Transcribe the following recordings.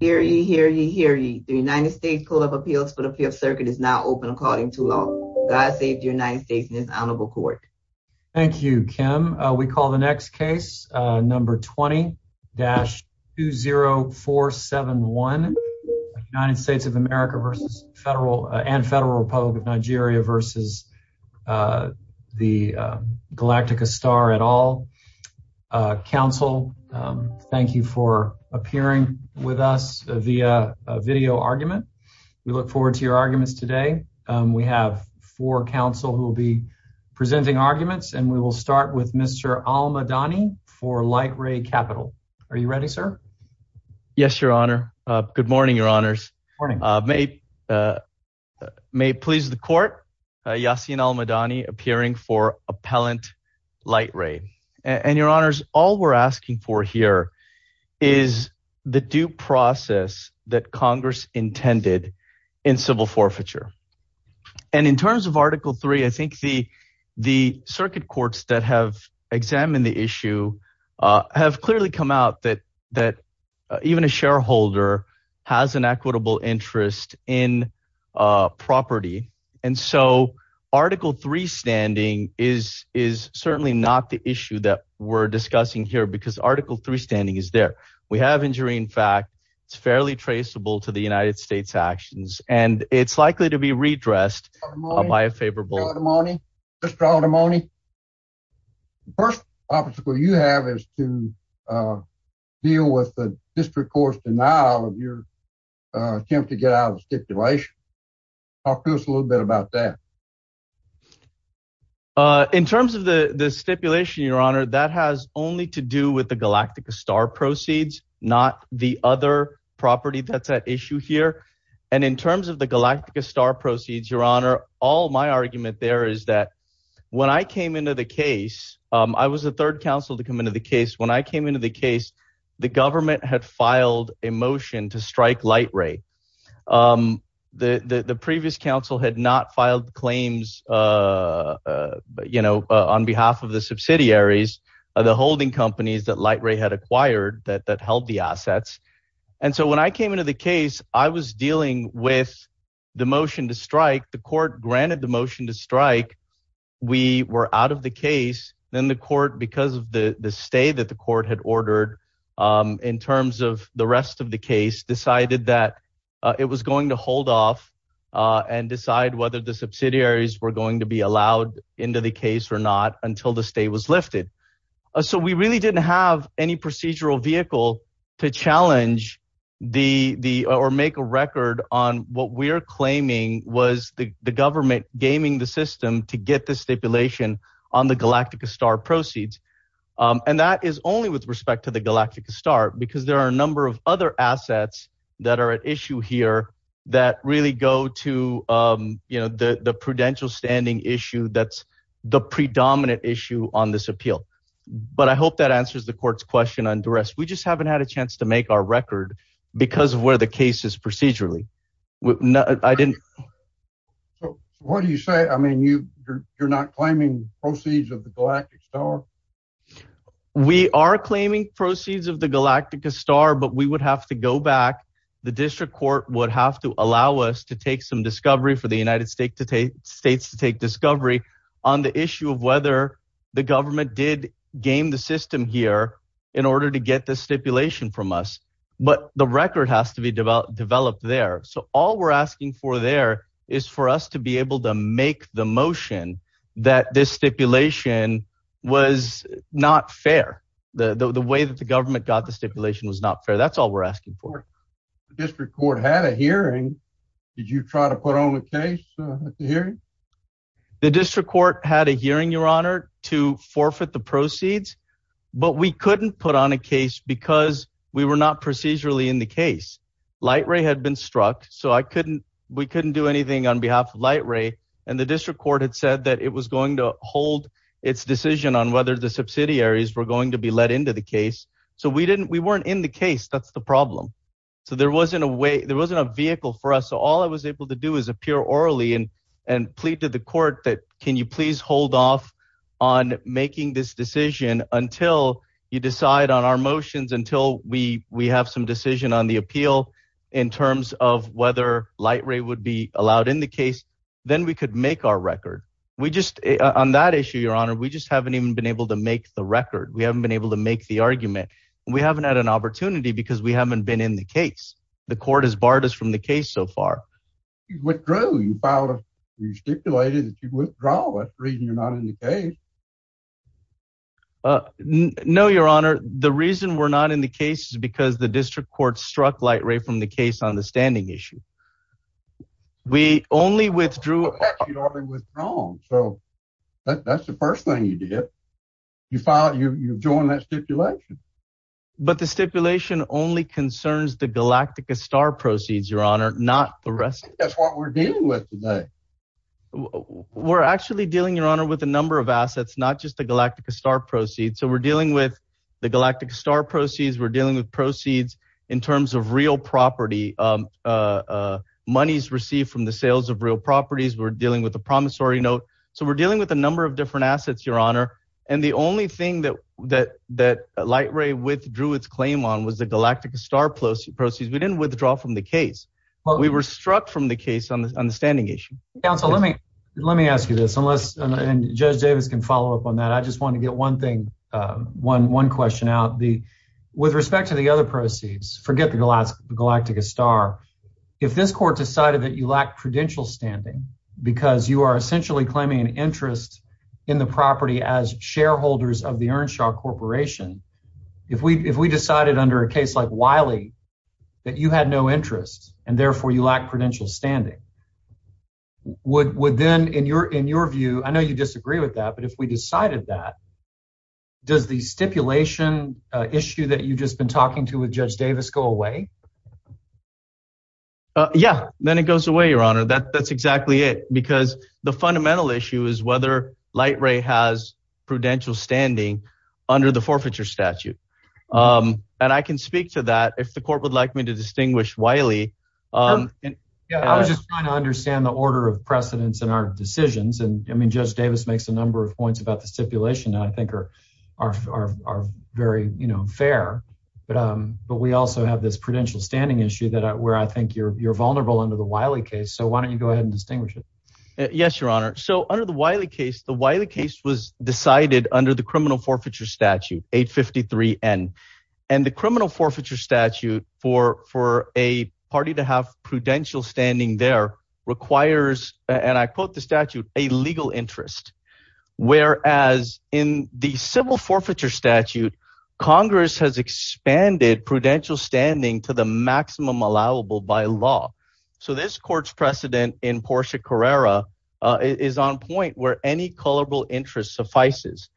Hear ye, hear ye, hear ye. The United States Court of Appeals for the Fifth Circuit is now open according to law. God save the United States and his Honorable Court. Thank you, Kim. We call the next case, number 20-20471, United States of America and Federal Republic of Nigeria v. Galactica Star et al. Counsel, thank you for appearing with us via video argument. We look forward to your arguments today. We have four counsel who will be presenting arguments, and we will start with Mr. Al-Madani for LightRay Captl. Are you ready, sir? Yes, Your Honor. Good morning, Your Honors. May it please the Court, Yassin Al-Madani appearing for appellant LightRay. And Your Honors, all we're asking for here is the due process that Congress intended in civil forfeiture. And in terms of Article 3, I think the circuit courts that have examined the issue have clearly come out that even a shareholder has an equitable interest in property. And so Article 3 standing is certainly not the issue that we're discussing here because Article 3 standing is there. We have injury. In fact, it's fairly traceable to the United States actions, and it's likely to be redressed by a favorable. Mr. Al-Madani, the first obstacle you have is to deal with the district court's denial of your attempt to get out of stipulation. Talk to us a little bit about that. In terms of the stipulation, Your Honor, that has only to do with the Galactica Star proceeds, not the other property that's at issue here. And in terms of the Galactica Star proceeds, Your Honor, all my argument there is that when I came into the case, I was the third counsel to come into the case. When I came into the case, the government had filed a motion to strike Light Ray. The previous counsel had not filed claims on behalf of the subsidiaries of the holding companies that Light Ray had acquired that held the assets. And so when I came into the case, I was dealing with the motion to strike. The court granted the motion to strike. We were out of the case. Then the court, because of the stay that the court had ordered in terms of the rest of the case, decided that it was going to hold off and decide whether the subsidiaries were going to be allowed into the case or not until the stay was lifted. So we really didn't have any procedural vehicle to challenge or make a record on what we're claiming was the government gaming the system to get the stipulation on the Galactica Star proceeds. And that is only with respect to the Galactica Star because there are a number of other assets that are at issue here that really go to the prudential standing issue that's the predominant issue on this appeal. But I hope that answers the court's question on duress. We just haven't had a chance to make our record because of where the case is procedurally. So what do you say? I mean, you're not claiming proceeds of the Galactica Star? We are claiming proceeds of the Galactica Star, but we would have to go back. The district court would have to allow us to take some discovery for the United States to take discovery on the issue of whether the government did game the system here in order to get the stipulation from us. But the record has to be developed there. So all we're asking for there is for us to be able to make the motion that this stipulation was not fair. The way that the government got the stipulation was not fair. That's all we're asking for. The district court had a hearing. Did you try to put on a case at the hearing? The district court had a hearing, Your Honor, to forfeit the proceeds, but we couldn't put on a case because we were not procedurally in the case. Light Ray had been struck, so we couldn't do anything on behalf of Light Ray. And the district court had said that it was going to hold its decision on whether the subsidiaries were going to be let into the case. So we weren't in the case. That's the problem. So there wasn't a way there wasn't a vehicle for us. So all I was able to do is appear orally and and plead to the court that can you please hold off on making this decision until you decide on our motions until we have some decision on the appeal in terms of whether Light Ray would be allowed in the case, then we could make our record. On that issue, Your Honor, we just haven't even been able to make the record. We haven't been able to make the argument. We haven't had an opportunity because we haven't been in the case. The court has barred us from the case so far. You withdrew. You filed a stipulation that you withdrew. That's the reason you're not in the case. No, Your Honor. The reason we're not in the case is because the district court struck Light Ray from the case on the standing issue. We only withdrew. You already withdrew. So that's the first thing you did. You joined that stipulation. But the stipulation only concerns the Galactica Star proceeds, Your Honor, not the rest. That's what we're dealing with today. We're actually dealing, Your Honor, with a number of assets, not just the Galactica Star proceeds. So we're dealing with the Galactica Star proceeds. We're dealing with proceeds in terms of real property, monies received from the sales of real properties. We're dealing with a promissory note. So we're dealing with a number of different assets, Your Honor. And the only thing that Light Ray withdrew its claim on was the Galactica Star proceeds. We didn't withdraw from the case. We were struck from the case on the standing issue. Counsel, let me ask you this, and Judge Davis can follow up on that. I just want to get one question out. With respect to the other proceeds, forget the Galactica Star, if this court decided that you lack prudential standing because you are essentially claiming an interest in the property as shareholders of the Earnshaw Corporation, if we decided under a case like Wiley that you had no interest and therefore you lack prudential standing, would then, in your view, I know you disagree with that, but if we decided that, does the stipulation issue that you've just been talking to with Judge Davis go away? Yeah, then it goes away, Your Honor. That's exactly it. Because the fundamental issue is whether Light Ray has prudential standing under the forfeiture statute. And I can speak to that if the court would like me to distinguish Wiley. I was just trying to understand the order of precedence in our decisions. And I mean, Judge Davis makes a number of points about the stipulation that I think are very fair. But we also have this prudential standing issue where I think you're vulnerable under the Wiley case. So why don't you go ahead and distinguish it? Yes, Your Honor. So under the Wiley case, the Wiley case was decided under the criminal forfeiture statute 853 N. And the criminal forfeiture statute for a party to have prudential standing there requires, and I quote the statute, a legal interest. Whereas in the civil forfeiture statute, Congress has expanded prudential standing to the maximum allowable by law. So this court's precedent in Porsche Carrera is on point where any culpable interest suffices.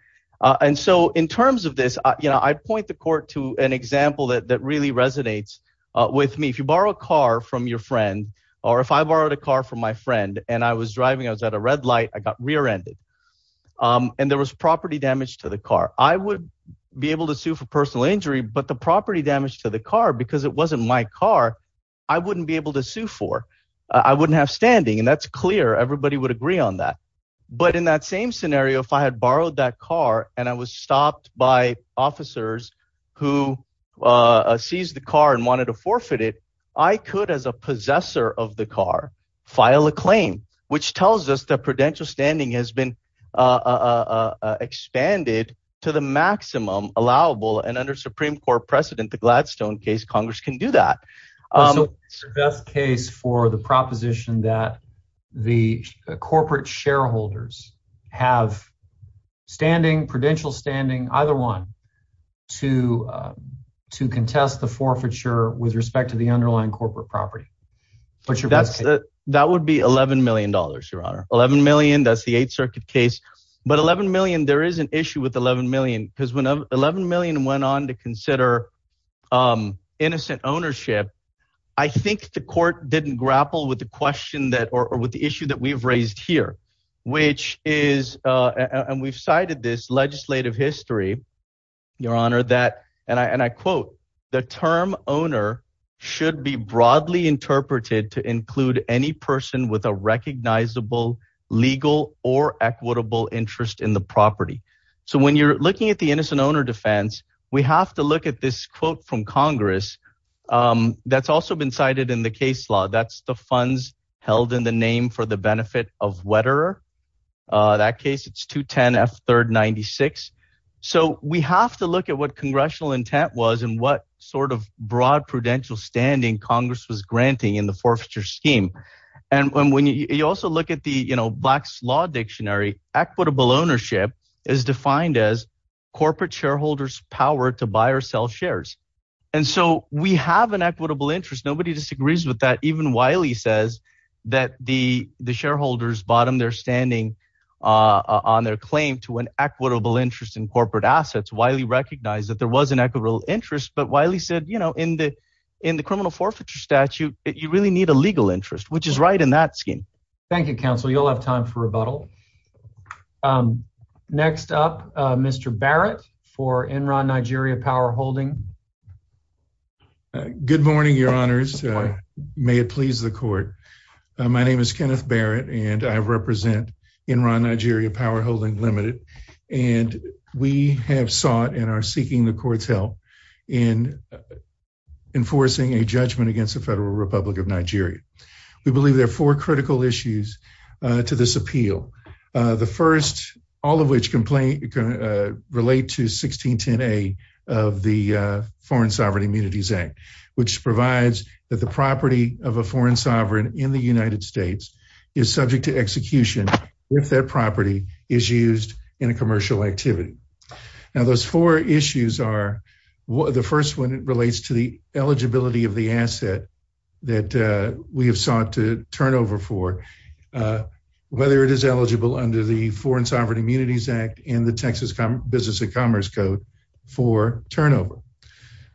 And so in terms of this, you know, I point the court to an example that really resonates with me. If you borrow a car from your friend or if I borrowed a car from my friend and I was driving, I was at a red light. I got rear ended and there was property damage to the car. I would be able to sue for personal injury, but the property damage to the car, because it wasn't my car, I wouldn't be able to sue for. I wouldn't have standing. And that's clear. Everybody would agree on that. But in that same scenario, if I had borrowed that car and I was stopped by officers who seized the car and wanted to forfeit it, I could, as a possessor of the car, file a claim, which tells us that prudential standing has been expanded to the maximum allowable. And under Supreme Court precedent, the Gladstone case, Congress can do that. The best case for the proposition that the corporate shareholders have standing prudential standing, either one to to contest the forfeiture with respect to the underlying corporate property. That would be eleven million dollars, Your Honor. Eleven million. That's the Eighth Circuit case. But eleven million. There is an issue with eleven million because when eleven million went on to consider innocent ownership, I think the court didn't grapple with the question that or with the issue that we've raised here, which is and we've cited this legislative history. Your Honor, that and I and I quote the term owner should be broadly interpreted to include any person with a recognizable legal or equitable interest in the property. So when you're looking at the innocent owner defense, we have to look at this quote from Congress that's also been cited in the case law. That's the funds held in the name for the benefit of wetter. That case, it's 210 F. Third. Ninety six. So we have to look at what congressional intent was and what sort of broad prudential standing Congress was granting in the forfeiture scheme. And when you also look at the Black's Law Dictionary, equitable ownership is defined as corporate shareholders power to buy or sell shares. And so we have an equitable interest. Nobody disagrees with that. Even Wiley says that the shareholders bottom their standing on their claim to an equitable interest in corporate assets. Wiley recognized that there was an equitable interest. But Wiley said, you know, in the in the criminal forfeiture statute, you really need a legal interest, which is right in that scheme. Thank you, Counsel. You'll have time for rebuttal. Next up, Mr Barrett for Enron Nigeria Power Holding. Good morning, Your Honors. May it please the court. My name is Kenneth Barrett, and I represent Enron Nigeria Power Holding Limited, and we have sought and are seeking the court's help in enforcing a judgment against the Federal Republic of Nigeria. We believe there are four critical issues to this appeal. The first, all of which relate to 1610A of the Foreign Sovereign Immunities Act, which provides that the property of a foreign sovereign in the United States is subject to execution if that property is used in a commercial activity. Now, those four issues are, the first one relates to the eligibility of the asset that we have sought to turnover for, whether it is eligible under the Foreign Sovereign Immunities Act and the Texas Business and Commerce Code for turnover.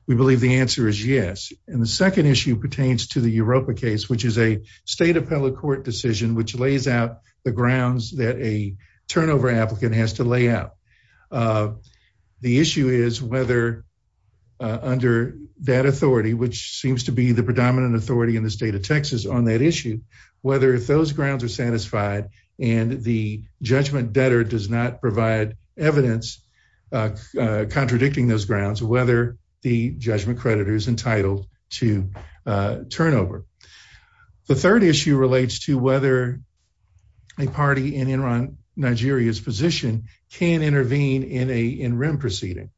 We believe the answer is yes. And the second issue pertains to the Europa case, which is a state appellate court decision which lays out the grounds that a turnover applicant has to lay out. The issue is whether under that authority, which seems to be the predominant authority in the state of Texas on that issue, whether if those grounds are satisfied and the judgment debtor does not provide evidence contradicting those grounds, whether the judgment creditor is entitled to turnover. The third issue relates to whether a party in Nigeria's position can intervene in a in-rim proceeding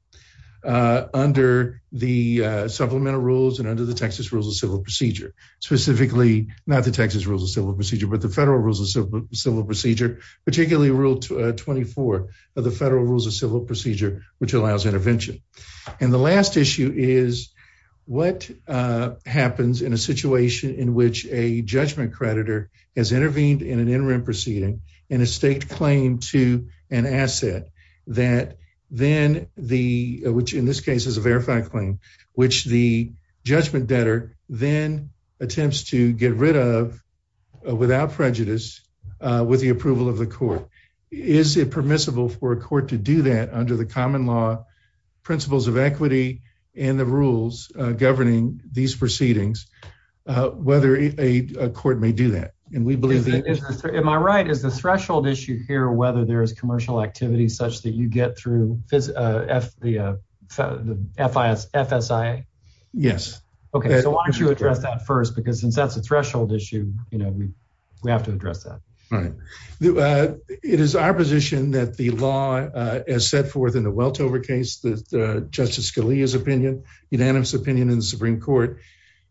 under the supplemental rules and under the Texas Rules of Civil Procedure, specifically not the Texas Rules of Civil Procedure, but the Federal Rules of Civil Procedure, particularly Rule 24 of the Federal Rules of Civil Procedure, which allows intervention. And the last issue is what happens in a situation in which a judgment creditor has intervened in an in-rim proceeding and has staked claim to an asset, which in this case is a verified claim, which the judgment debtor then attempts to get rid of without prejudice with the approval of the court. Is it permissible for a court to do that under the common law principles of equity and the rules governing these proceedings, whether a court may do that? Am I right? Is the threshold issue here whether there is commercial activity such that you get through the FSIA? Yes. Okay, so why don't you address that first? Because since that's a threshold issue, you know, we have to address that. Right. It is our position that the law as set forth in the Weltover case, that Justice Scalia's opinion, unanimous opinion in the Supreme Court,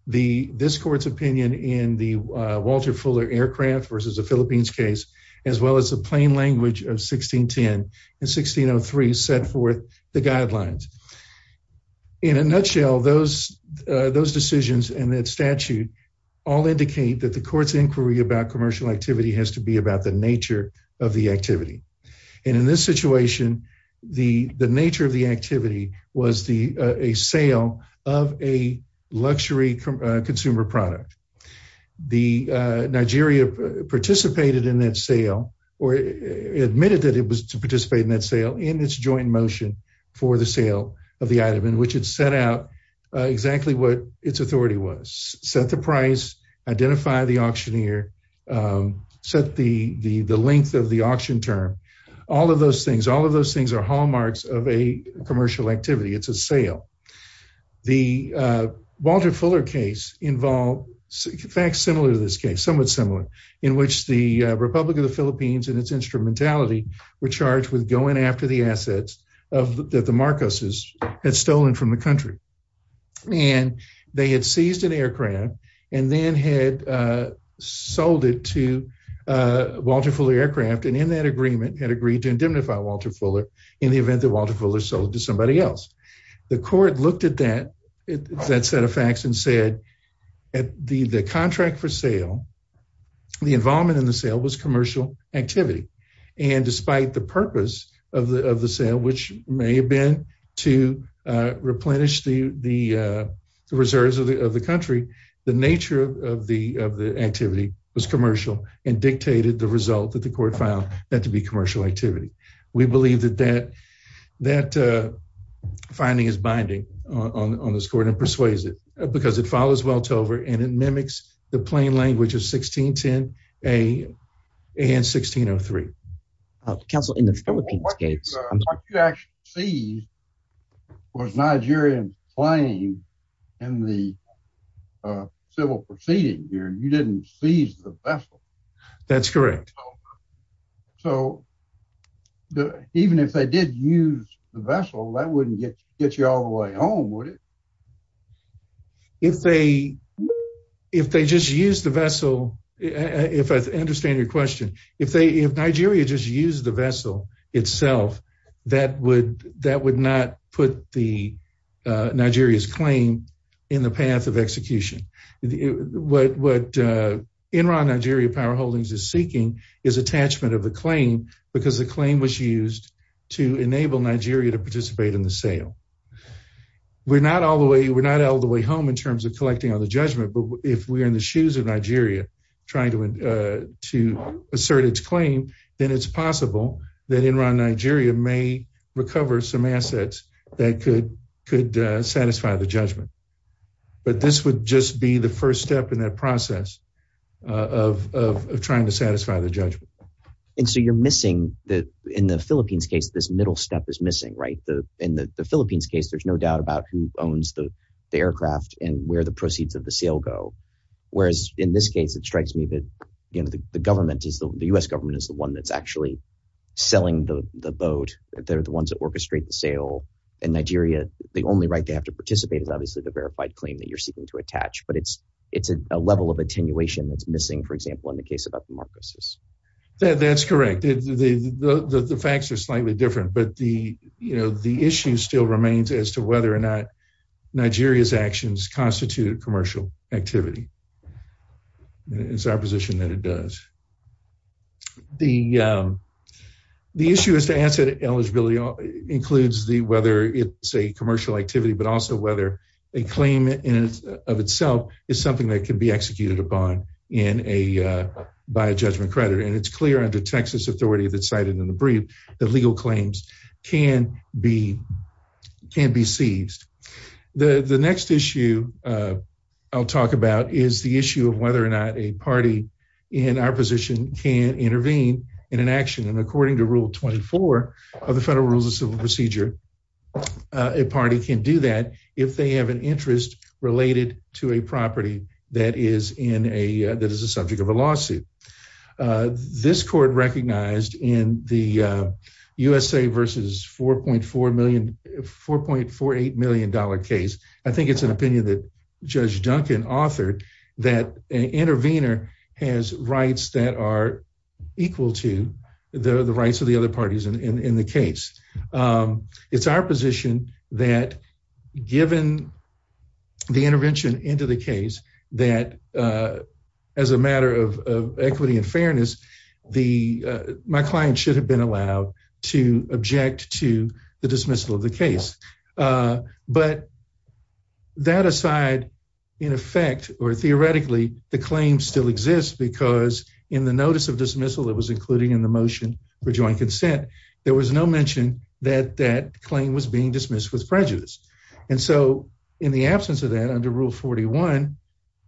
this court's opinion in the Walter Fuller aircraft versus the Philippines case, as well as the plain language of 1610 and 1603 set forth the guidelines. In a nutshell, those decisions and that statute all indicate that the court's inquiry about commercial activity has to be about the nature of the activity. And in this situation, the nature of the activity was a sale of a luxury consumer product. The Nigeria participated in that sale or admitted that it was to participate in that sale in its joint motion for the sale of the item in which it set out exactly what its authority was. Set the price, identify the auctioneer, set the length of the auction term. All of those things, all of those things are hallmarks of a commercial activity. It's a sale. The Walter Fuller case involved facts similar to this case, somewhat similar, in which the Republic of the Philippines and its instrumentality were charged with going after the assets that the Marcoses had stolen from the country. And they had seized an aircraft and then had sold it to Walter Fuller aircraft and in that agreement had agreed to indemnify Walter Fuller in the event that Walter Fuller sold it to somebody else. The court looked at that set of facts and said that the contract for sale, the involvement in the sale, was commercial activity. And despite the purpose of the sale, which may have been to replenish the reserves of the country, the nature of the activity was commercial and dictated the result that the court found that to be commercial activity. We believe that that finding is binding on this court and persuades it because it follows Weltover and it mimics the plain language of 1610 and 1603. What you actually seized was Nigerian plain in the civil proceeding here. You didn't seize the vessel. That's correct. So even if they did use the vessel, that wouldn't get you all the way home, would it? If they just used the vessel, if I understand your question, if Nigeria just used the vessel itself, that would not put Nigeria's claim in the path of execution. What Enron Nigeria Power Holdings is seeking is attachment of the claim because the claim was used to enable Nigeria to participate in the sale. We're not all the way home in terms of collecting on the judgment, but if we're in the shoes of Nigeria trying to assert its claim, then it's possible that Enron Nigeria may recover some assets that could satisfy the judgment. But this would just be the first step in that process of trying to satisfy the judgment. And so you're missing that in the Philippines case, this middle step is missing, right? In the Philippines case, there's no doubt about who owns the aircraft and where the proceeds of the sale go. Whereas in this case, it strikes me that the government is the US government is the one that's actually selling the boat. They're the ones that orchestrate the sale. In Nigeria, the only right they have to participate is obviously the verified claim that you're seeking to attach. But it's a level of attenuation that's missing, for example, in the case of the Marcos. That's correct. The facts are slightly different. But the issue still remains as to whether or not Nigeria's actions constitute commercial activity. It's our position that it does. The issue is to answer eligibility includes whether it's a commercial activity, but also whether a claim in and of itself is something that can be executed upon by a judgment creditor. And it's clear under Texas authority that cited in the brief that legal claims can be seized. The next issue I'll talk about is the issue of whether or not a party in our position can intervene in an action. And according to Rule 24 of the Federal Rules of Civil Procedure, a party can do that if they have an interest related to a property that is in a that is the subject of a lawsuit. This court recognized in the USA versus four point four million four point four eight million dollar case. I think it's an opinion that Judge Duncan authored that an intervener has rights that are equal to the rights of the other parties in the case. It's our position that given the intervention into the case that as a matter of equity and fairness, the my client should have been allowed to object to the dismissal of the case. But that aside, in effect or theoretically, the claim still exists because in the notice of dismissal, it was including in the motion for joint consent. There was no mention that that claim was being dismissed with prejudice. And so in the absence of that under Rule 41,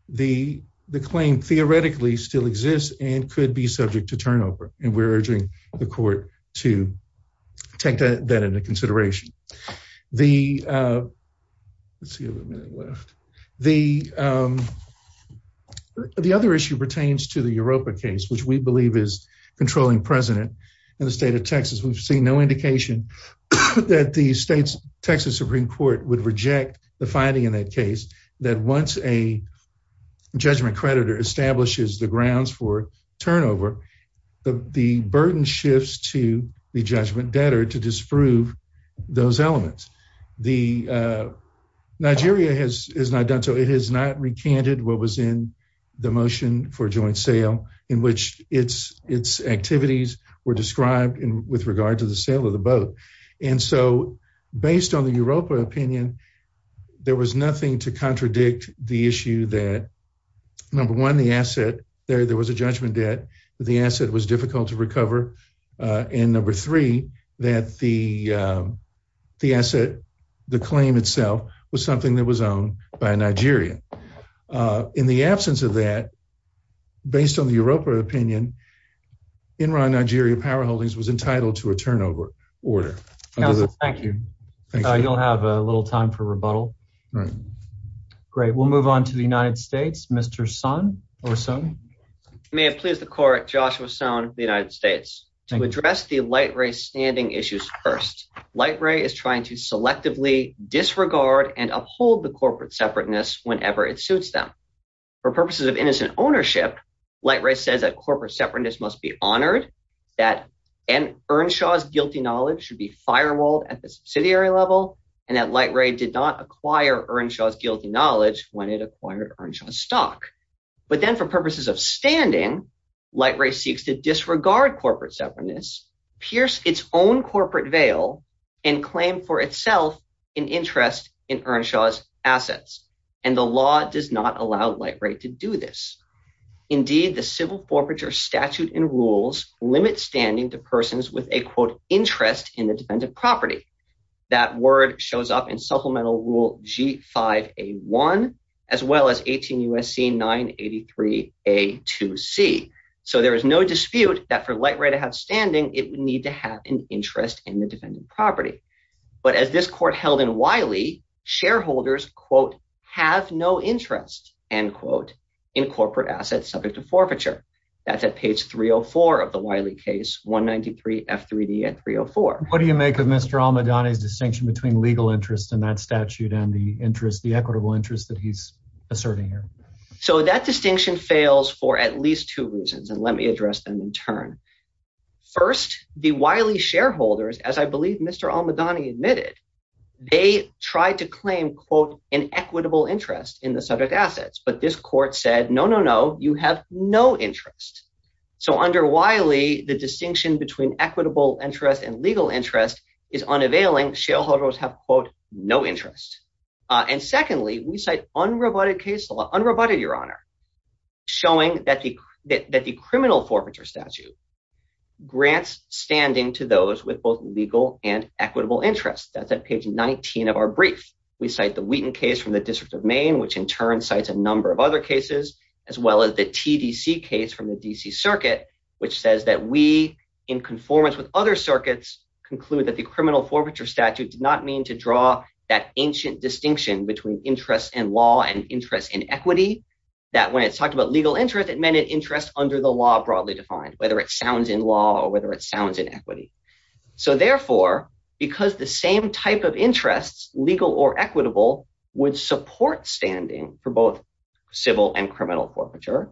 the the claim theoretically still exists and could be subject to turnover. And we're urging the court to take that into consideration. The. Let's see what left the. The other issue pertains to the Europa case, which we believe is controlling president in the state of Texas. We've seen no indication that the state's Texas Supreme Court would reject the finding in that case that once a judgment creditor establishes the grounds for turnover, the burden shifts to the judgment debtor to disprove those elements. The Nigeria has is not done. So it is not recanted. What was in the motion for joint sale in which it's its activities were described with regard to the sale of the boat. And so based on the Europa opinion, there was nothing to contradict the issue that number one, the asset there. There was a judgment debt. The asset was difficult to recover. And number three, that the the asset, the claim itself was something that was owned by Nigeria. In the absence of that, based on the Europa opinion in Nigeria, powerholdings was entitled to a turnover order. Thank you. You'll have a little time for rebuttal. Great. We'll move on to the United States, Mr. Son or son. May it please the court, Joshua Stone, the United States to address the light race standing issues first. Light Ray is trying to selectively disregard and uphold the corporate separateness whenever it suits them for purposes of innocent ownership. Light race says that corporate separateness must be honored, that an Earnshaw's guilty knowledge should be firewalled at the subsidiary level. And that light ray did not acquire Earnshaw's guilty knowledge when it acquired Earnshaw's stock. But then for purposes of standing, light ray seeks to disregard corporate separateness, pierce its own corporate veil and claim for itself an interest in Earnshaw's assets. And the law does not allow light rate to do this. Indeed, the civil forfeiture statute and rules limit standing to persons with a, quote, interest in the dependent property. That word shows up in supplemental rule G5A1, as well as 18 U.S.C. 983A2C. So there is no dispute that for light ray to have standing, it would need to have an interest in the dependent property. But as this court held in Wiley, shareholders, quote, have no interest, end quote, in corporate assets subject to forfeiture. That's at page 304 of the Wiley case, 193 F3D at 304. What do you make of Mr. Almadani's distinction between legal interest in that statute and the interest, the equitable interest that he's asserting here? So that distinction fails for at least two reasons. And let me address them in turn. First, the Wiley shareholders, as I believe Mr. Almadani admitted, they tried to claim, quote, an equitable interest in the subject assets. But this court said, no, no, no, you have no interest. So under Wiley, the distinction between equitable interest and legal interest is unavailing. Shareholders have, quote, no interest. And secondly, we cite unroboted case law, unroboted, Your Honor, showing that the that the criminal forfeiture statute grants standing to those with both legal and equitable interest. That's at page 19 of our brief. We cite the Wheaton case from the District of Maine, which in turn cites a number of other cases, as well as the TDC case from the D.C. Circuit, which says that we, in conformance with other circuits, conclude that the criminal forfeiture statute did not mean to draw that ancient distinction between interest in law and interest in equity, that when it talked about legal interest, it meant an interest under the law broadly defined, whether it sounds in law or whether it sounds in equity. So therefore, because the same type of interests, legal or equitable, would support standing for both civil and criminal forfeiture.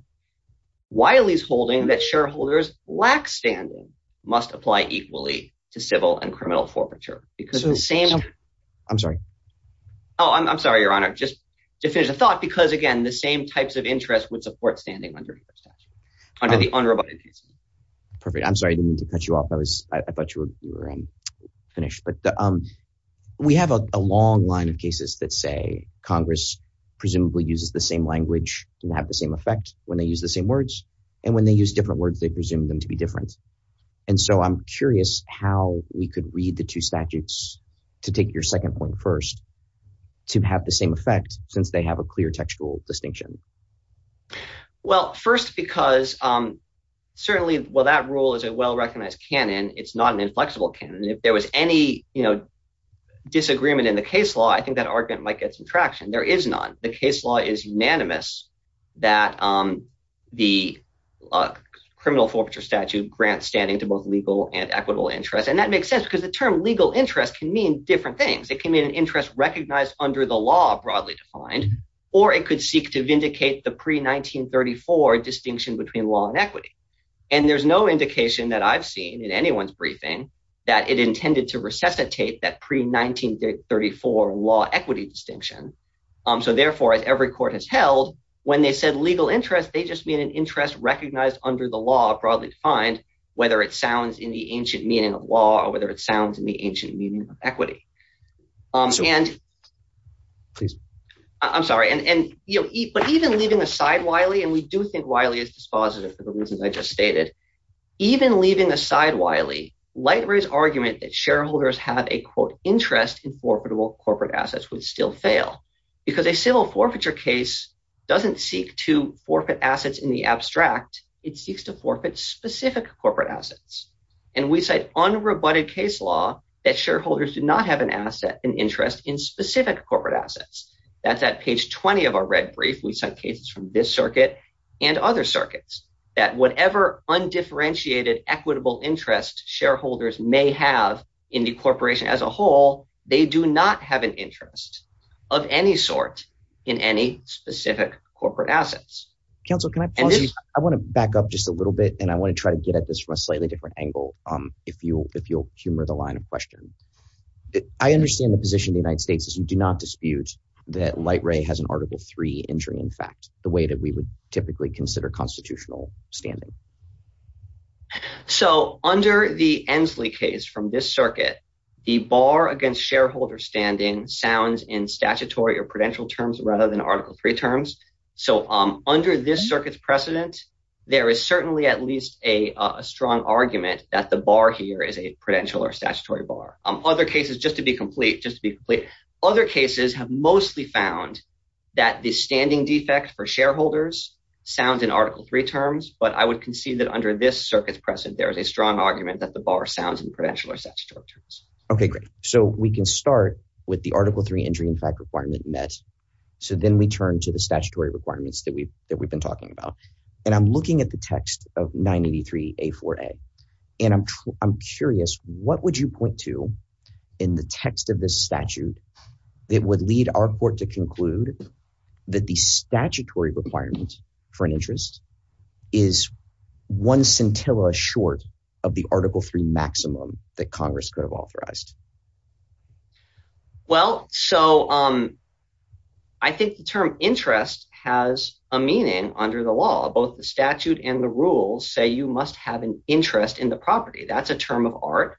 Wiley's holding that shareholders lack standing must apply equally to civil and criminal forfeiture because of the same. I'm sorry. Oh, I'm sorry, Your Honor. Just to finish the thought, because, again, the same types of interest would support standing under the statute under the unroboted case law. Perfect. I'm sorry to cut you off. I was I thought you were finished. But we have a long line of cases that say Congress presumably uses the same language and have the same effect when they use the same words. And when they use different words, they presume them to be different. And so I'm curious how we could read the two statutes to take your second point first to have the same effect since they have a clear textual distinction. Well, first, because certainly, well, that rule is a well-recognized canon. It's not an inflexible canon. If there was any disagreement in the case law, I think that argument might get some traction. There is not. The case law is unanimous that the criminal forfeiture statute grants standing to both legal and equitable interest. And that makes sense because the term legal interest can mean different things. It can mean an interest recognized under the law, broadly defined, or it could seek to vindicate the pre-1934 distinction between law and equity. And there's no indication that I've seen in anyone's briefing that it intended to resuscitate that pre-1934 law equity distinction. So therefore, as every court has held when they said legal interest, they just mean an interest recognized under the law, broadly defined, whether it sounds in the ancient meaning of law or whether it sounds in the ancient meaning of equity. And I'm sorry, but even leaving aside Wiley, and we do think Wiley is dispositive for the reasons I just stated, even leaving aside Wiley, Lightray's argument that shareholders have a, quote, interest in forfeitable corporate assets would still fail because a civil forfeiture case doesn't seek to forfeit assets in the abstract. It seeks to forfeit specific corporate assets. And we cite unrebutted case law that shareholders do not have an asset, an interest in specific corporate assets. That's at page 20 of our red brief. We sent cases from this circuit and other circuits that whatever undifferentiated equitable interest shareholders may have in the corporation as a whole, they do not have an interest of any sort in any specific corporate assets. Counsel, can I, I want to back up just a little bit, and I want to try to get at this from a slightly different angle. If you if you'll humor the line of question, I understand the position of the United States. As you do not dispute that Lightray has an Article three injury, in fact, the way that we would typically consider constitutional standing. So under the Ensley case from this circuit, the bar against shareholder standing sounds in statutory or prudential terms rather than Article three terms. So under this circuit's precedent, there is certainly at least a strong argument that the bar here is a prudential or statutory bar. Other cases, just to be complete, just to be complete. Other cases have mostly found that the standing defect for shareholders sounds in Article three terms. But I would concede that under this circuit's precedent, there is a strong argument that the bar sounds in prudential or statutory terms. OK, great. So we can start with the Article three injury, in fact, requirement met. So then we turn to the statutory requirements that we've that we've been talking about. And I'm looking at the text of ninety three, a four. And I'm I'm curious, what would you point to in the text of this statute that would lead our court to conclude that the statutory requirements for an interest is one scintilla short of the Article three maximum that Congress could have authorized? Well, so I think the term interest has a meaning under the law. Both the statute and the rules say you must have an interest in the property. That's a term of art.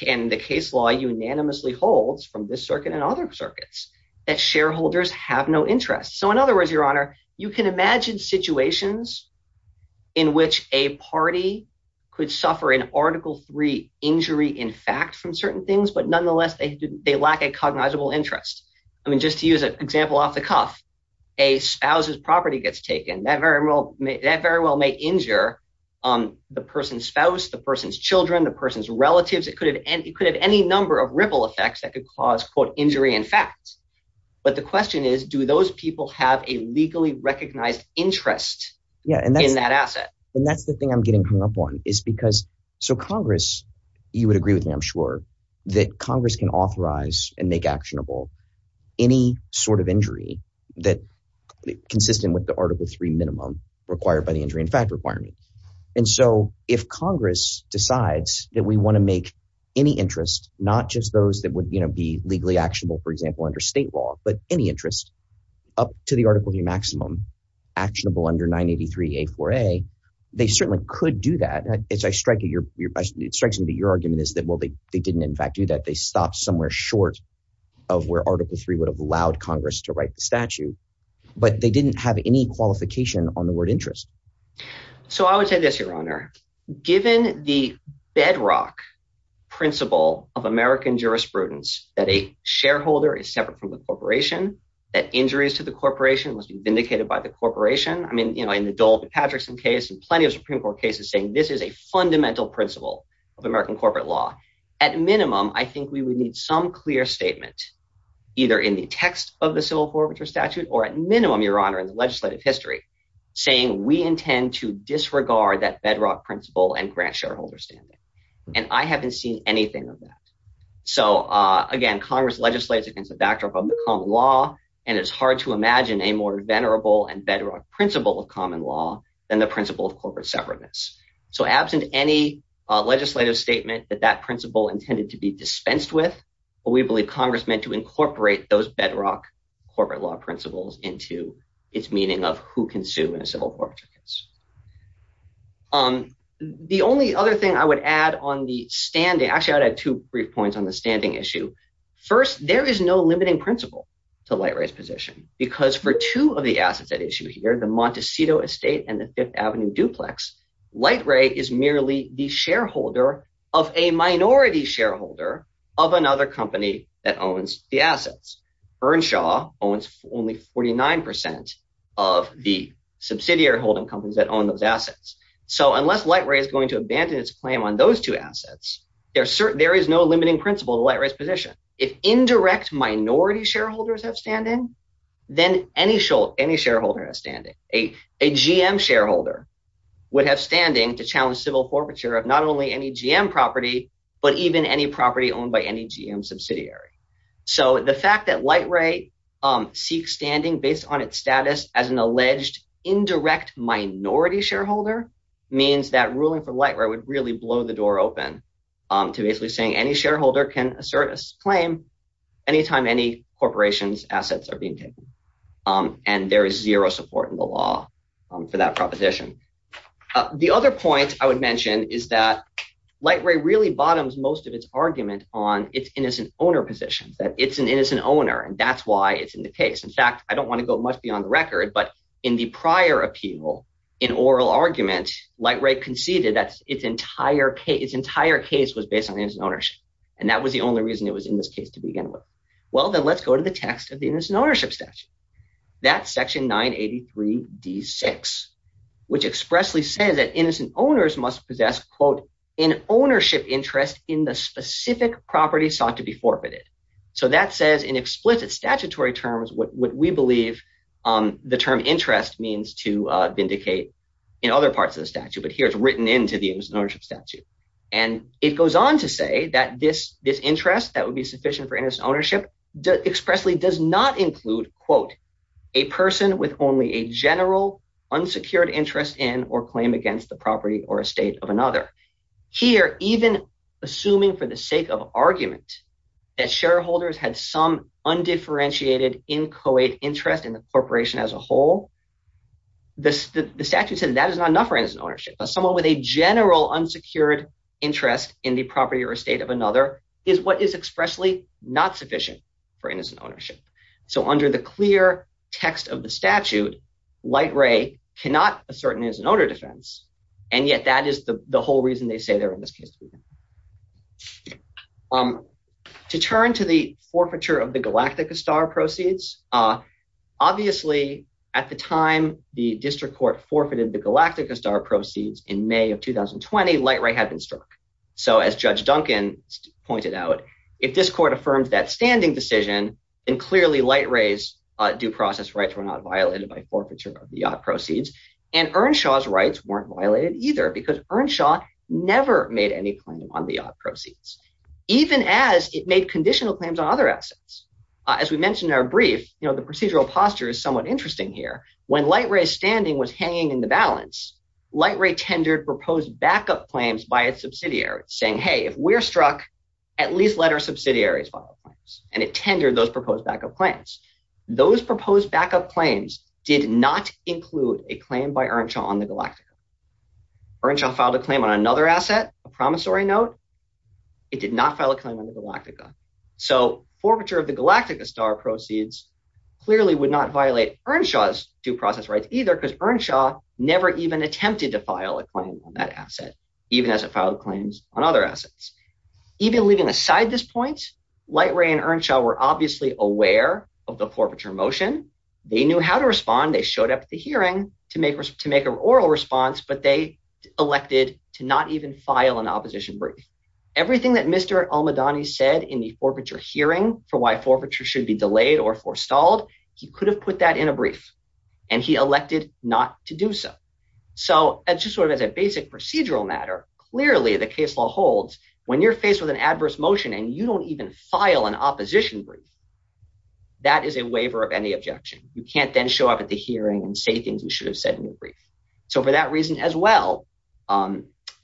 Can the case law unanimously holds from this circuit and other circuits that shareholders have no interest? So in other words, your honor, you can imagine situations in which a party could suffer in Article three injury, in fact, from certain things. But nonetheless, they they lack a cognizable interest. I mean, just to use an example off the cuff, a spouse's property gets taken. That very well that very well may injure the person's spouse, the person's children, the person's relatives. It could have any number of ripple effects that could cause, quote, injury in fact. But the question is, do those people have a legally recognized interest in that asset? And that's the thing I'm getting hung up on is because. So Congress, you would agree with me, I'm sure that Congress can authorize and make actionable any sort of injury that consistent with the Article three minimum required by the injury in fact requirement. And so if Congress decides that we want to make any interest, not just those that would be legally actionable, for example, under state law, but any interest up to the article, the maximum actionable under 983 A4A, they certainly could do that. It's a strike. It strikes me that your argument is that, well, they didn't in fact do that. They stopped somewhere short of where Article three would have allowed Congress to write the statute, but they didn't have any qualification on the word interest. So I would say this, Your Honor, given the bedrock principle of American jurisprudence, that a shareholder is separate from the corporation, that injuries to the corporation must be vindicated by the corporation. I mean, you know, in the Dole to Patrickson case and plenty of Supreme Court cases saying this is a fundamental principle of American corporate law. At minimum, I think we would need some clear statement, either in the text of the civil forfeiture statute or at minimum, Your Honor, in the legislative history, saying we intend to disregard that bedrock principle and grant shareholder standing. And I haven't seen anything of that. So, again, Congress legislates against the backdrop of the common law, and it's hard to imagine a more venerable and bedrock principle of common law than the principle of corporate separateness. So absent any legislative statement that that principle intended to be dispensed with, we believe Congress meant to incorporate those bedrock corporate law principles into its meaning of who can sue in a civil forfeiture case. The only other thing I would add on the standing – actually, I would add two brief points on the standing issue. First, there is no limiting principle to Lightray's position because for two of the assets at issue here, the Montecito estate and the Fifth Avenue duplex, Lightray is merely the shareholder of a minority shareholder of another company that owns the assets. Earnshaw owns only 49 percent of the subsidiary holding companies that own those assets. So unless Lightray is going to abandon its claim on those two assets, there is no limiting principle to Lightray's position. If indirect minority shareholders have standing, then any shareholder has standing. A GM shareholder would have standing to challenge civil forfeiture of not only any GM property but even any property owned by any GM subsidiary. So the fact that Lightray seeks standing based on its status as an alleged indirect minority shareholder means that ruling for Lightray would really blow the door open to basically saying any shareholder can assert a claim anytime any corporation's assets are being taken, and there is zero support in the law for that proposition. The other point I would mention is that Lightray really bottoms most of its argument on its innocent owner positions, that it's an innocent owner, and that's why it's in the case. In fact, I don't want to go much beyond the record, but in the prior appeal, in oral argument, Lightray conceded that its entire case was based on innocent ownership, and that was the only reason it was in this case to begin with. Well, then let's go to the text of the Innocent Ownership Statute. That's section 983d6, which expressly says that innocent owners must possess, quote, an ownership interest in the specific property sought to be forfeited. So that says in explicit statutory terms what we believe the term interest means to vindicate in other parts of the statute, but here it's written into the Innocent Ownership Statute. And it goes on to say that this interest that would be sufficient for innocent ownership expressly does not include, quote, a person with only a general unsecured interest in or claim against the property or estate of another. Here, even assuming for the sake of argument that shareholders had some undifferentiated, inchoate interest in the corporation as a whole, the statute said that is not enough for innocent ownership. Someone with a general unsecured interest in the property or estate of another is what is expressly not sufficient for innocent ownership. So under the clear text of the statute, Light Ray cannot assert an innocent owner defense, and yet that is the whole reason they say they're in this case to begin with. To turn to the forfeiture of the Galactica Star proceeds, obviously at the time the district court forfeited the Galactica Star proceeds in May of 2020, Light Ray had been struck. So as Judge Duncan pointed out, if this court affirmed that standing decision, then clearly Light Ray's due process rights were not violated by forfeiture of the proceeds. And Earnshaw's rights weren't violated either because Earnshaw never made any claim on the proceeds, even as it made conditional claims on other assets. As we mentioned in our brief, the procedural posture is somewhat interesting here. When Light Ray's standing was hanging in the balance, Light Ray tendered proposed backup claims by its subsidiary saying, hey, if we're struck, at least let our subsidiaries file claims. And it tendered those proposed backup claims. Those proposed backup claims did not include a claim by Earnshaw on the Galactica. Earnshaw filed a claim on another asset, a promissory note. It did not file a claim on the Galactica. So forfeiture of the Galactica Star proceeds clearly would not violate Earnshaw's due process rights either because Earnshaw never even attempted to file a claim on that asset, even as it filed claims on other assets. Even leaving aside this point, Light Ray and Earnshaw were obviously aware of the forfeiture motion. They knew how to respond. They showed up at the hearing to make a oral response, but they elected to not even file an opposition brief. Everything that Mr. Almadani said in the forfeiture hearing for why forfeiture should be delayed or forestalled, he could have put that in a brief, and he elected not to do so. So just sort of as a basic procedural matter, clearly the case law holds when you're faced with an adverse motion and you don't even file an opposition brief, that is a waiver of any objection. You can't then show up at the hearing and say things you should have said in your brief. So for that reason as well,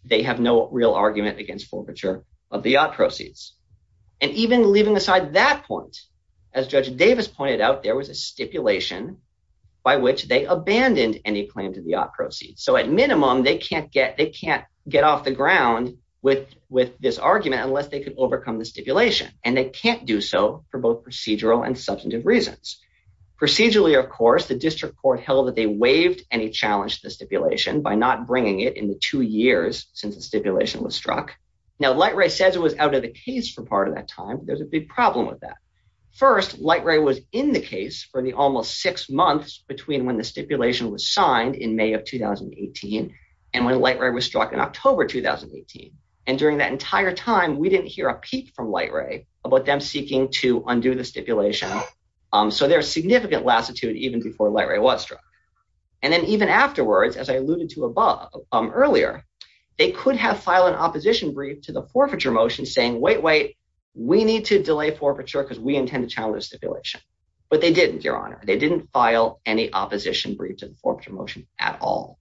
they have no real argument against forfeiture of the yacht proceeds. And even leaving aside that point, as Judge Davis pointed out, there was a stipulation by which they abandoned any claim to the yacht proceeds. So at minimum, they can't get off the ground with this argument unless they could overcome the stipulation, and they can't do so for both procedural and substantive reasons. Procedurally, of course, the district court held that they waived any challenge to the stipulation by not bringing it in the two years since the stipulation was struck. Now, Light Ray says it was out of the case for part of that time. There's a big problem with that. First, Light Ray was in the case for the almost six months between when the stipulation was signed in May of 2018 and when Light Ray was struck in October 2018. And during that entire time, we didn't hear a peep from Light Ray about them seeking to undo the stipulation. So there's significant lassitude even before Light Ray was struck. And then even afterwards, as I alluded to above earlier, they could have filed an opposition brief to the forfeiture motion saying, wait, wait, we need to delay forfeiture because we intend to challenge the stipulation. But they didn't, Your Honor. They didn't file any opposition brief to the forfeiture motion at all.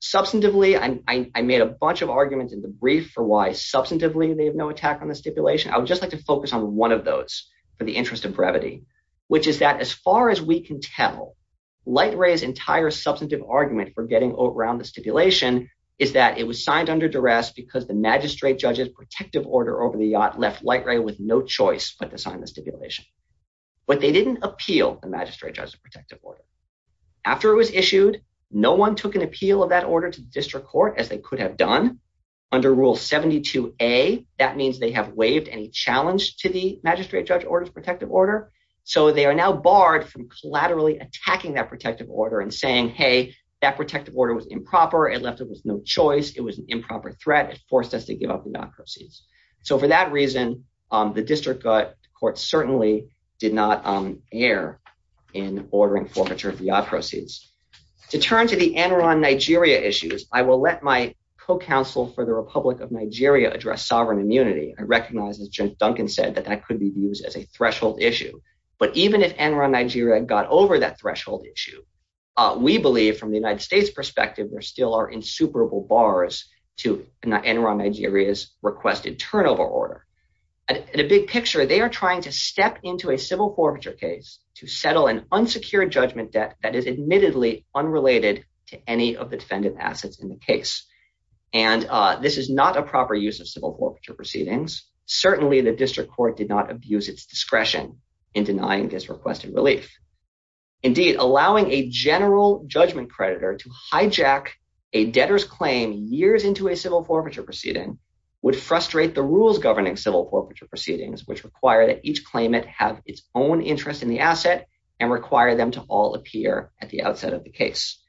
Substantively, I made a bunch of arguments in the brief for why substantively they have no attack on the stipulation. I would just like to focus on one of those for the interest of brevity, which is that as far as we can tell, Light Ray's entire substantive argument for getting around the stipulation is that it was signed under duress because the magistrate judge's protective order over the yacht left Light Ray with no choice but to sign the stipulation. But they didn't appeal the magistrate judge's protective order. After it was issued, no one took an appeal of that order to the district court as they could have done. Under Rule 72A, that means they have waived any challenge to the magistrate judge's protective order. So they are now barred from collaterally attacking that protective order and saying, hey, that protective order was improper. It left us with no choice. It was an improper threat. It forced us to give up the yacht proceeds. So for that reason, the district court certainly did not err in ordering forfeiture of the yacht proceeds. To turn to the Enron Nigeria issues, I will let my co-counsel for the Republic of Nigeria address sovereign immunity. I recognize, as Judge Duncan said, that that could be used as a threshold issue. But even if Enron Nigeria got over that threshold issue, we believe from the United States perspective, there still are insuperable bars to Enron Nigeria's requested turnover order. At a big picture, they are trying to step into a civil forfeiture case to settle an unsecured judgment debt that is admittedly unrelated to any of the defendant assets in the case. And this is not a proper use of civil forfeiture proceedings. Certainly, the district court did not abuse its discretion in denying this requested relief. Indeed, allowing a general judgment creditor to hijack a debtor's claim years into a civil forfeiture proceeding would frustrate the rules governing civil forfeiture proceedings, which require that each claimant have its own interest in the asset and require them to all appear at the outset of the case.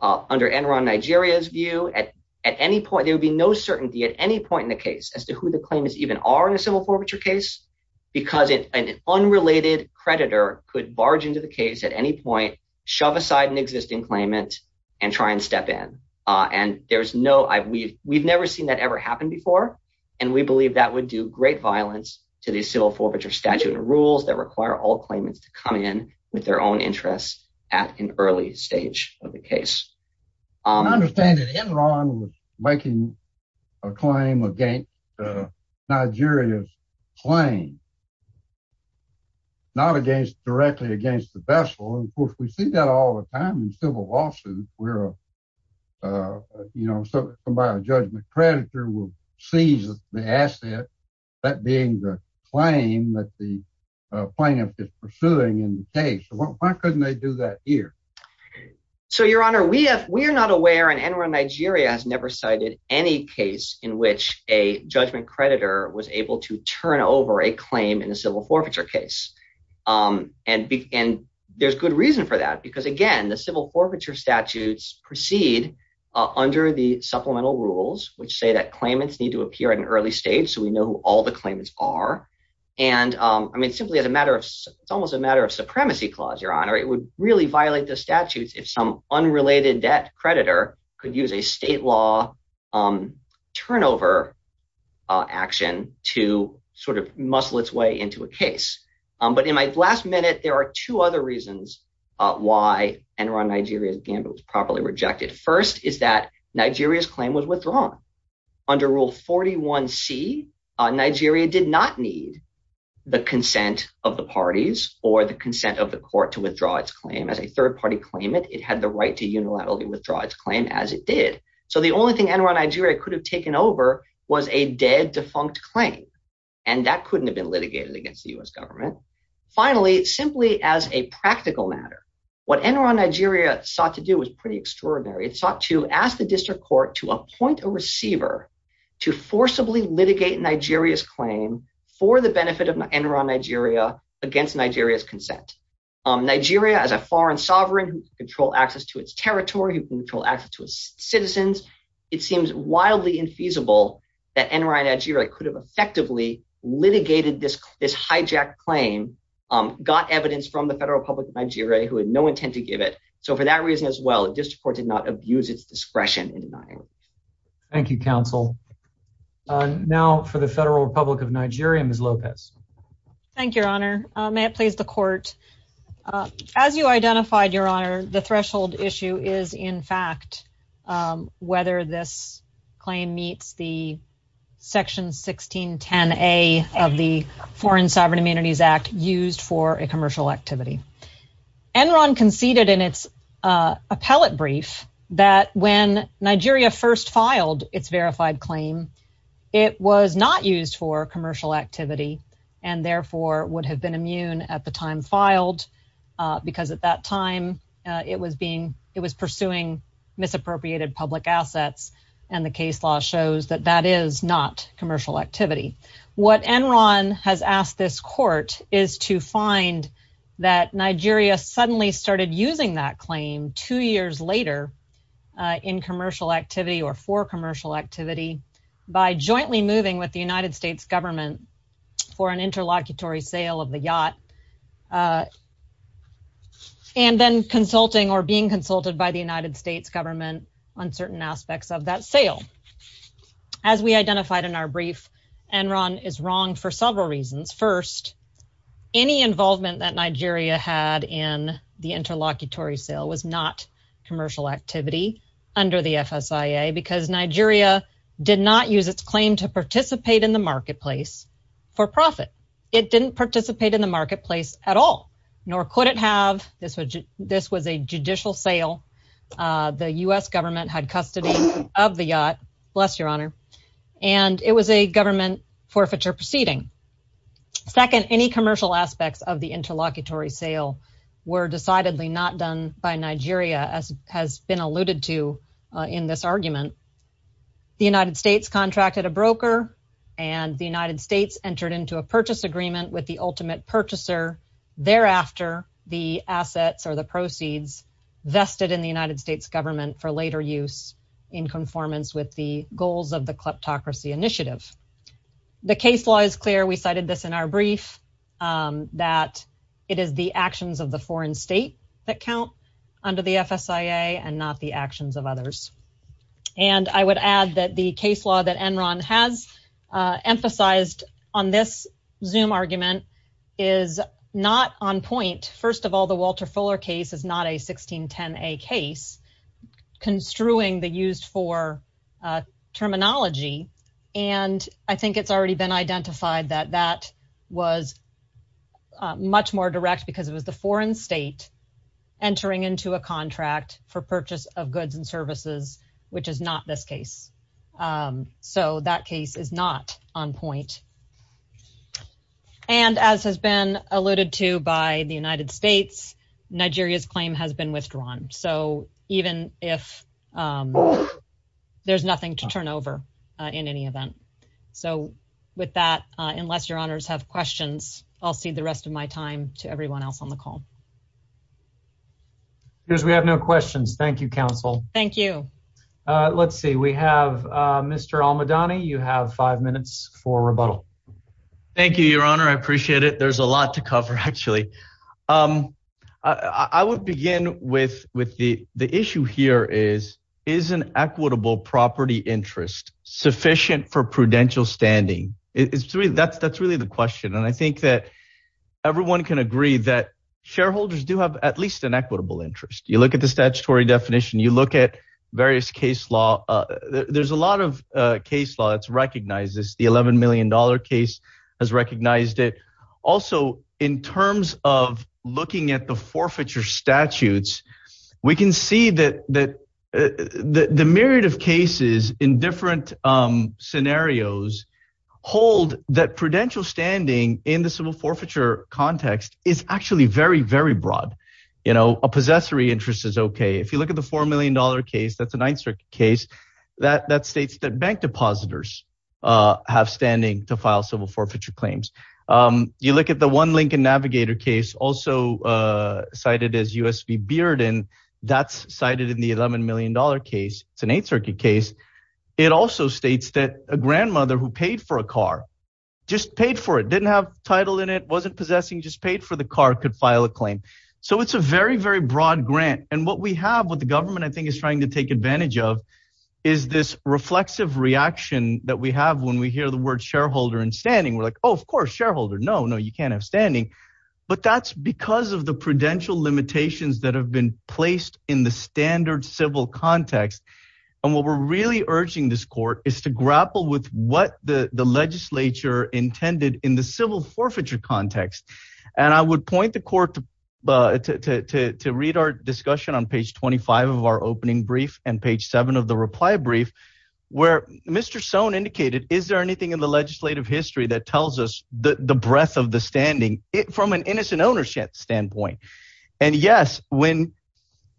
Under Enron Nigeria's view, there would be no certainty at any point in the case as to who the claimants even are in a civil forfeiture case, because an unrelated creditor could barge into the case at any point, shove aside an existing claimant, and try and step in. We've never seen that ever happen before, and we believe that would do great violence to the civil forfeiture statute and rules that require all claimants to come in with their own interest at an early stage of the case. I understand that Enron was making a claim against Nigeria's claim, not directly against the vessel. Of course, we see that all the time in civil lawsuits where a judgment creditor would seize the asset, that being the claim that the plaintiff is pursuing in the case. Why couldn't they do that here? So, Your Honor, we are not aware, and Enron Nigeria has never cited any case in which a judgment creditor was able to turn over a claim in a civil forfeiture case. There's good reason for that, because, again, the civil forfeiture statutes proceed under the supplemental rules, which say that claimants need to appear at an early stage so we know who all the claimants are. It's almost a matter of supremacy clause, Your Honor. It would really violate the statutes if some unrelated debt creditor could use a state law turnover action to muscle its way into a case. But in my last minute, there are two other reasons why Enron Nigeria's gambit was properly rejected. First is that Nigeria's claim was withdrawn. Under Rule 41C, Nigeria did not need the consent of the parties or the consent of the court to withdraw its claim. As a third-party claimant, it had the right to unilaterally withdraw its claim as it did. So the only thing Enron Nigeria could have taken over was a dead, defunct claim, and that couldn't have been litigated against the U.S. government. Finally, simply as a practical matter, what Enron Nigeria sought to do was pretty extraordinary. It sought to ask the district court to appoint a receiver to forcibly litigate Nigeria's claim for the benefit of Enron Nigeria against Nigeria's consent. Nigeria, as a foreign sovereign who can control access to its territory, who can control access to its citizens, it seems wildly infeasible that Enron Nigeria could have effectively litigated this hijacked claim, got evidence from the federal public of Nigeria who had no intent to give it. So for that reason as well, the district court did not abuse its discretion in denying it. Thank you, counsel. Now for the Federal Republic of Nigeria, Ms. Lopez. Thank you, Your Honor. May it please the court. As you identified, Your Honor, the threshold issue is, in fact, whether this claim meets the Section 1610A of the Foreign Sovereign Amenities Act used for a commercial activity. Enron conceded in its appellate brief that when Nigeria first filed its verified claim, it was not used for commercial activity and therefore would have been immune at the time filed because at that time it was being – it was pursuing misappropriated public assets, and the case law shows that that is not commercial activity. What Enron has asked this court is to find that Nigeria suddenly started using that claim two years later in commercial activity or for commercial activity by jointly moving with the United States Government for an interlocutory sale of the yacht and then consulting or being consulted by the United States Government on certain aspects of that sale. As we identified in our brief, Enron is wrong for several reasons. First, any involvement that Nigeria had in the interlocutory sale was not commercial activity under the FSIA because Nigeria did not use its claim to participate in the marketplace for profit. It didn't participate in the marketplace at all, nor could it have. This was a judicial sale. The U.S. Government had custody of the yacht – bless your honor – and it was a government forfeiture proceeding. Second, any commercial aspects of the interlocutory sale were decidedly not done by Nigeria, as has been alluded to in this argument. The United States contracted a broker, and the United States entered into a purchase agreement with the ultimate purchaser. Thereafter, the assets or the proceeds vested in the United States Government for later use in conformance with the goals of the kleptocracy initiative. The case law is clear. We cited this in our brief that it is the actions of the foreign state that count under the FSIA and not the actions of others. I would add that the case law that Enron has emphasized on this Zoom argument is not on point. First of all, the Walter Fuller case is not a 1610A case construing the used-for terminology, and I think it's already been identified that that was much more direct because it was the foreign state entering into a contract for purchase of goods and services, which is not this case. So that case is not on point. And as has been alluded to by the United States, Nigeria's claim has been withdrawn. So even if there's nothing to turn over in any event. So with that, unless your honors have questions, I'll cede the rest of my time to everyone else on the call. We have no questions. Thank you, counsel. Thank you. Let's see. We have Mr. Almadani. You have five minutes for rebuttal. Thank you, Your Honor. I appreciate it. There's a lot to cover, actually. I would begin with the issue here is, is an equitable property interest sufficient for prudential standing? That's really the question. And I think that everyone can agree that shareholders do have at least an equitable interest. You look at the statutory definition, you look at various case law. There's a lot of case law that recognizes the 11 million dollar case has recognized it. Also, in terms of looking at the forfeiture statutes, we can see that the myriad of cases in different scenarios hold that prudential standing in the civil forfeiture context is actually very, very broad. You know, a possessory interest is okay. If you look at the 4 million dollar case, that's a 9th Circuit case, that states that bank depositors have standing to file civil forfeiture claims. You look at the one Lincoln Navigator case, also cited as USB Bearden, that's cited in the 11 million dollar case. It's an 8th Circuit case. It also states that a grandmother who paid for a car, just paid for it, didn't have title in it, wasn't possessing, just paid for the car, could file a claim. So it's a very, very broad grant. And what we have, what the government I think is trying to take advantage of, is this reflexive reaction that we have when we hear the word shareholder and standing. We're like, oh, of course, shareholder. No, no, you can't have standing. But that's because of the prudential limitations that have been placed in the standard civil context. And what we're really urging this court is to grapple with what the legislature intended in the civil forfeiture context. And I would point the court to read our discussion on page 25 of our opening brief and page 7 of the reply brief. Where Mr. Sohn indicated, is there anything in the legislative history that tells us the breadth of the standing from an innocent ownership standpoint? And yes, when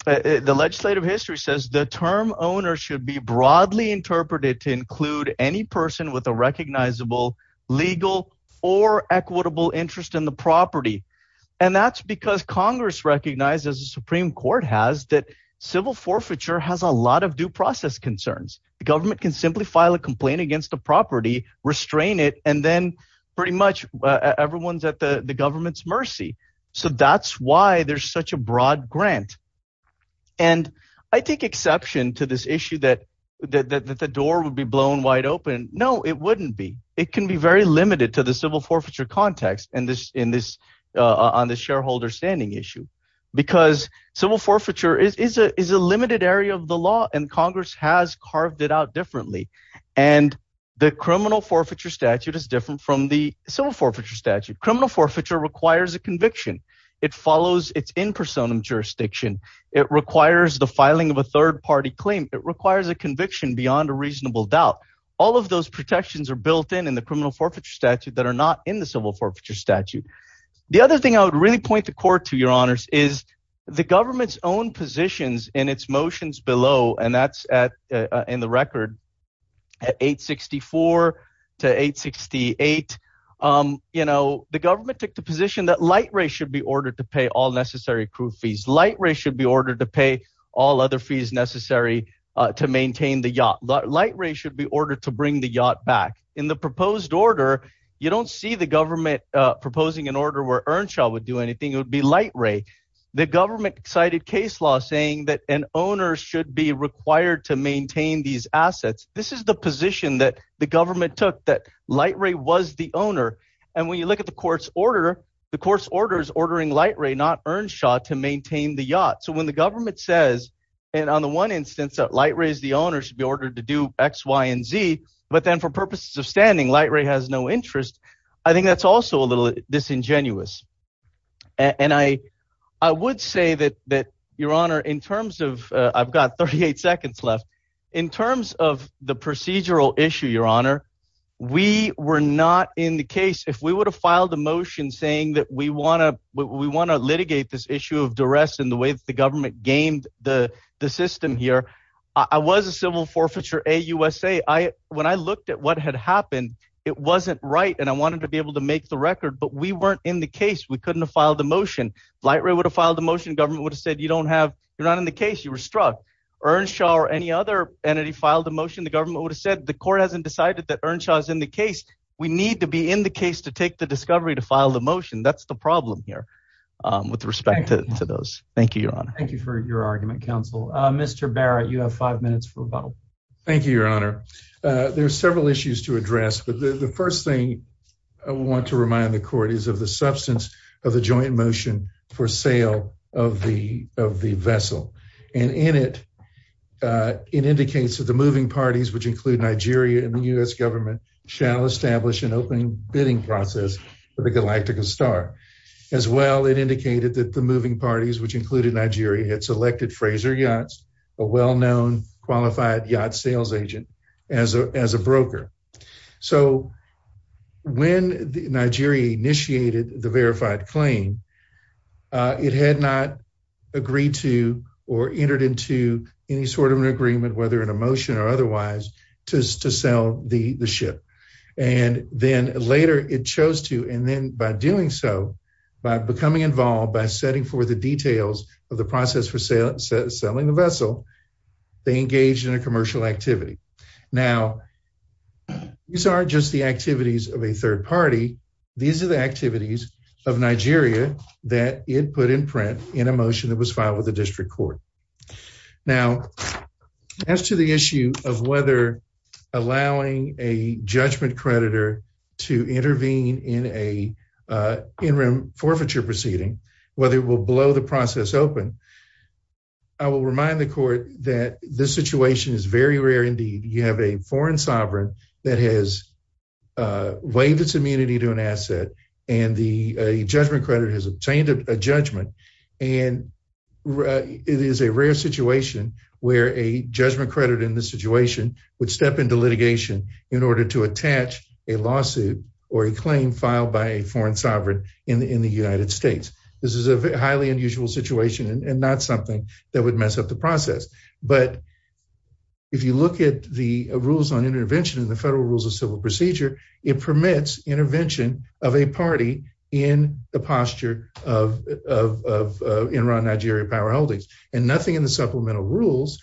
the legislative history says the term owner should be broadly interpreted to include any person with a recognizable legal or equitable interest in the property. And that's because Congress recognizes the Supreme Court has that civil forfeiture has a lot of due process concerns. The government can simply file a complaint against the property, restrain it, and then pretty much everyone's at the government's mercy. So that's why there's such a broad grant. And I take exception to this issue that the door would be blown wide open. No, it wouldn't be. It can be very limited to the civil forfeiture context. And this in this on the shareholder standing issue, because civil forfeiture is a limited area of the law. And Congress has carved it out differently. And the criminal forfeiture statute is different from the civil forfeiture statute. Criminal forfeiture requires a conviction. It follows its in personam jurisdiction. It requires the filing of a third party claim. It requires a conviction beyond a reasonable doubt. All of those protections are built in in the criminal forfeiture statute that are not in the civil forfeiture statute. The other thing I would really point the court to your honors is the government's own positions in its motions below. And that's in the record at 864 to 868. You know, the government took the position that light ray should be ordered to pay all necessary crew fees. Light ray should be ordered to pay all other fees necessary to maintain the yacht. Light ray should be ordered to bring the yacht back in the proposed order. You don't see the government proposing an order where Earnshaw would do anything. It would be light ray. The government cited case law saying that an owner should be required to maintain these assets. This is the position that the government took that light ray was the owner. And when you look at the court's order, the court's orders ordering light ray not Earnshaw to maintain the yacht. So when the government says and on the one instance that light rays the owner should be ordered to do X, Y and Z. But then for purposes of standing, light ray has no interest. I think that's also a little disingenuous. And I I would say that that your honor, in terms of I've got 38 seconds left. In terms of the procedural issue, your honor, we were not in the case. If we would have filed a motion saying that we want to we want to litigate this issue of duress in the way that the government gained the system here. I was a civil forfeiture a USA. I when I looked at what had happened, it wasn't right. And I wanted to be able to make the record, but we weren't in the case. We couldn't have filed the motion. Light ray would have filed a motion. Government would have said you don't have you're not in the case. You were struck. Earnshaw or any other entity filed a motion. The government would have said the court hasn't decided that Earnshaw is in the case. We need to be in the case to take the discovery to file the motion. That's the problem here with respect to those. Thank you. Thank you for your argument, counsel. Mr. Barrett, you have five minutes for a bottle. Thank you, your honor. There are several issues to address. But the first thing I want to remind the court is of the substance of the joint motion for sale of the of the vessel. And in it, it indicates that the moving parties, which include Nigeria and the U.S. Government shall establish an open bidding process for the Galactica star as well. It indicated that the moving parties, which included Nigeria, had selected Fraser Yachts, a well-known qualified yacht sales agent as a as a broker. So when Nigeria initiated the verified claim, it had not agreed to or entered into any sort of an agreement, whether in a motion or otherwise, to sell the ship. And then later it chose to. And then by doing so, by becoming involved, by setting for the details of the process for selling the vessel, they engaged in a commercial activity. Now, these are just the activities of a third party. These are the activities of Nigeria that it put in print in a motion that was filed with the district court. Now, as to the issue of whether allowing a judgment creditor to intervene in a in room forfeiture proceeding, whether it will blow the process open. I will remind the court that this situation is very rare. Indeed, you have a foreign sovereign that has waived its immunity to an asset and the judgment credit has obtained a judgment. And it is a rare situation where a judgment credit in this situation would step into litigation in order to attach a lawsuit or a claim filed by a foreign sovereign in the United States. This is a highly unusual situation and not something that would mess up the process. But if you look at the rules on intervention in the federal rules of civil procedure, it permits intervention of a party in the posture of Iran, Nigeria powerholdings. And nothing in the supplemental rules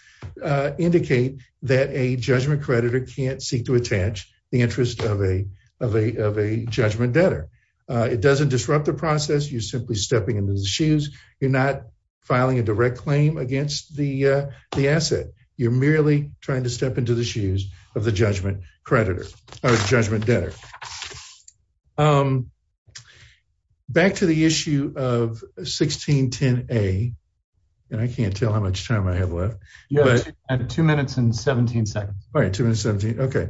indicate that a judgment creditor can't seek to attach the interest of a of a of a judgment debtor. It doesn't disrupt the process. You're simply stepping into the shoes. You're not filing a direct claim against the the asset. You're merely trying to step into the shoes of the judgment creditor or judgment debtor. Back to the issue of 1610 a. And I can't tell how much time I have left. Two minutes and 17 seconds. OK.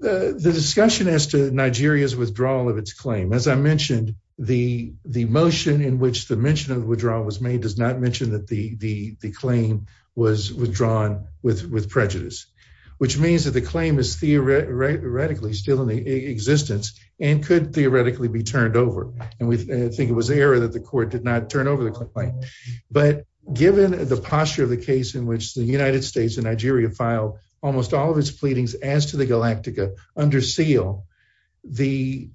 The discussion as to Nigeria's withdrawal of its claim, as I mentioned, the the motion in which the mention of withdrawal was made does not mention that the the claim was withdrawn with with prejudice, which means that the claim is theoretically still in existence and could theoretically be turned over. And we think it was the error that the court did not turn over the complaint. But given the posture of the case in which the United States and Nigeria filed almost all of its pleadings as to the Galactica under seal, the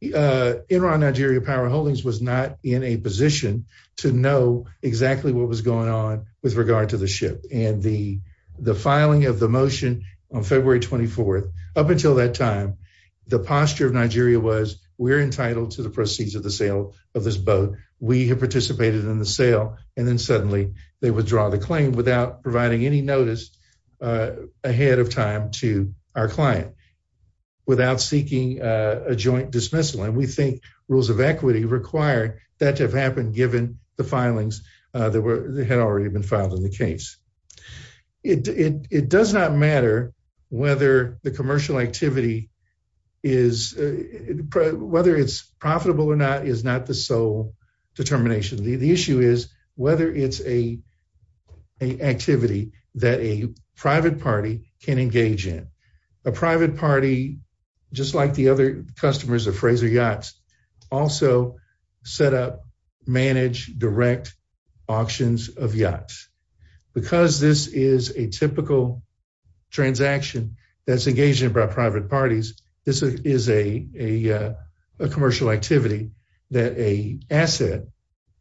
Iran, Nigeria powerholdings was not in a position to know exactly what was going on with regard to the ship and the the filing of the motion on February 24th. Up until that time, the posture of Nigeria was we're entitled to the proceeds of the sale of this boat. We have participated in the sale. And then suddenly they withdraw the claim without providing any notice ahead of time to our client without seeking a joint dismissal. And we think rules of equity require that to have happened, given the filings that had already been filed in the case. It does not matter whether the commercial activity is whether it's profitable or not, is not the sole determination. The issue is whether it's a activity that a private party can engage in a private party, just like the other customers of Fraser Yachts also set up, manage, direct auctions of yachts. Because this is a typical transaction that's engaged in private parties. This is a commercial activity that a asset,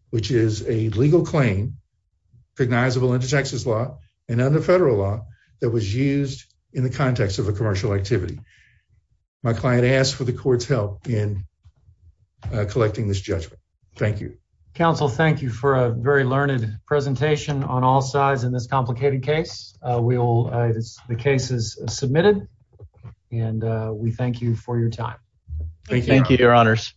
which is a legal claim, recognizable into Texas law and under federal law that was used in the context of a commercial activity. My client asked for the court's help in collecting this judgment. Thank you. Counsel, thank you for a very learned presentation on all sides in this complicated case. We will. The case is submitted and we thank you for your time. Thank you, Your Honors.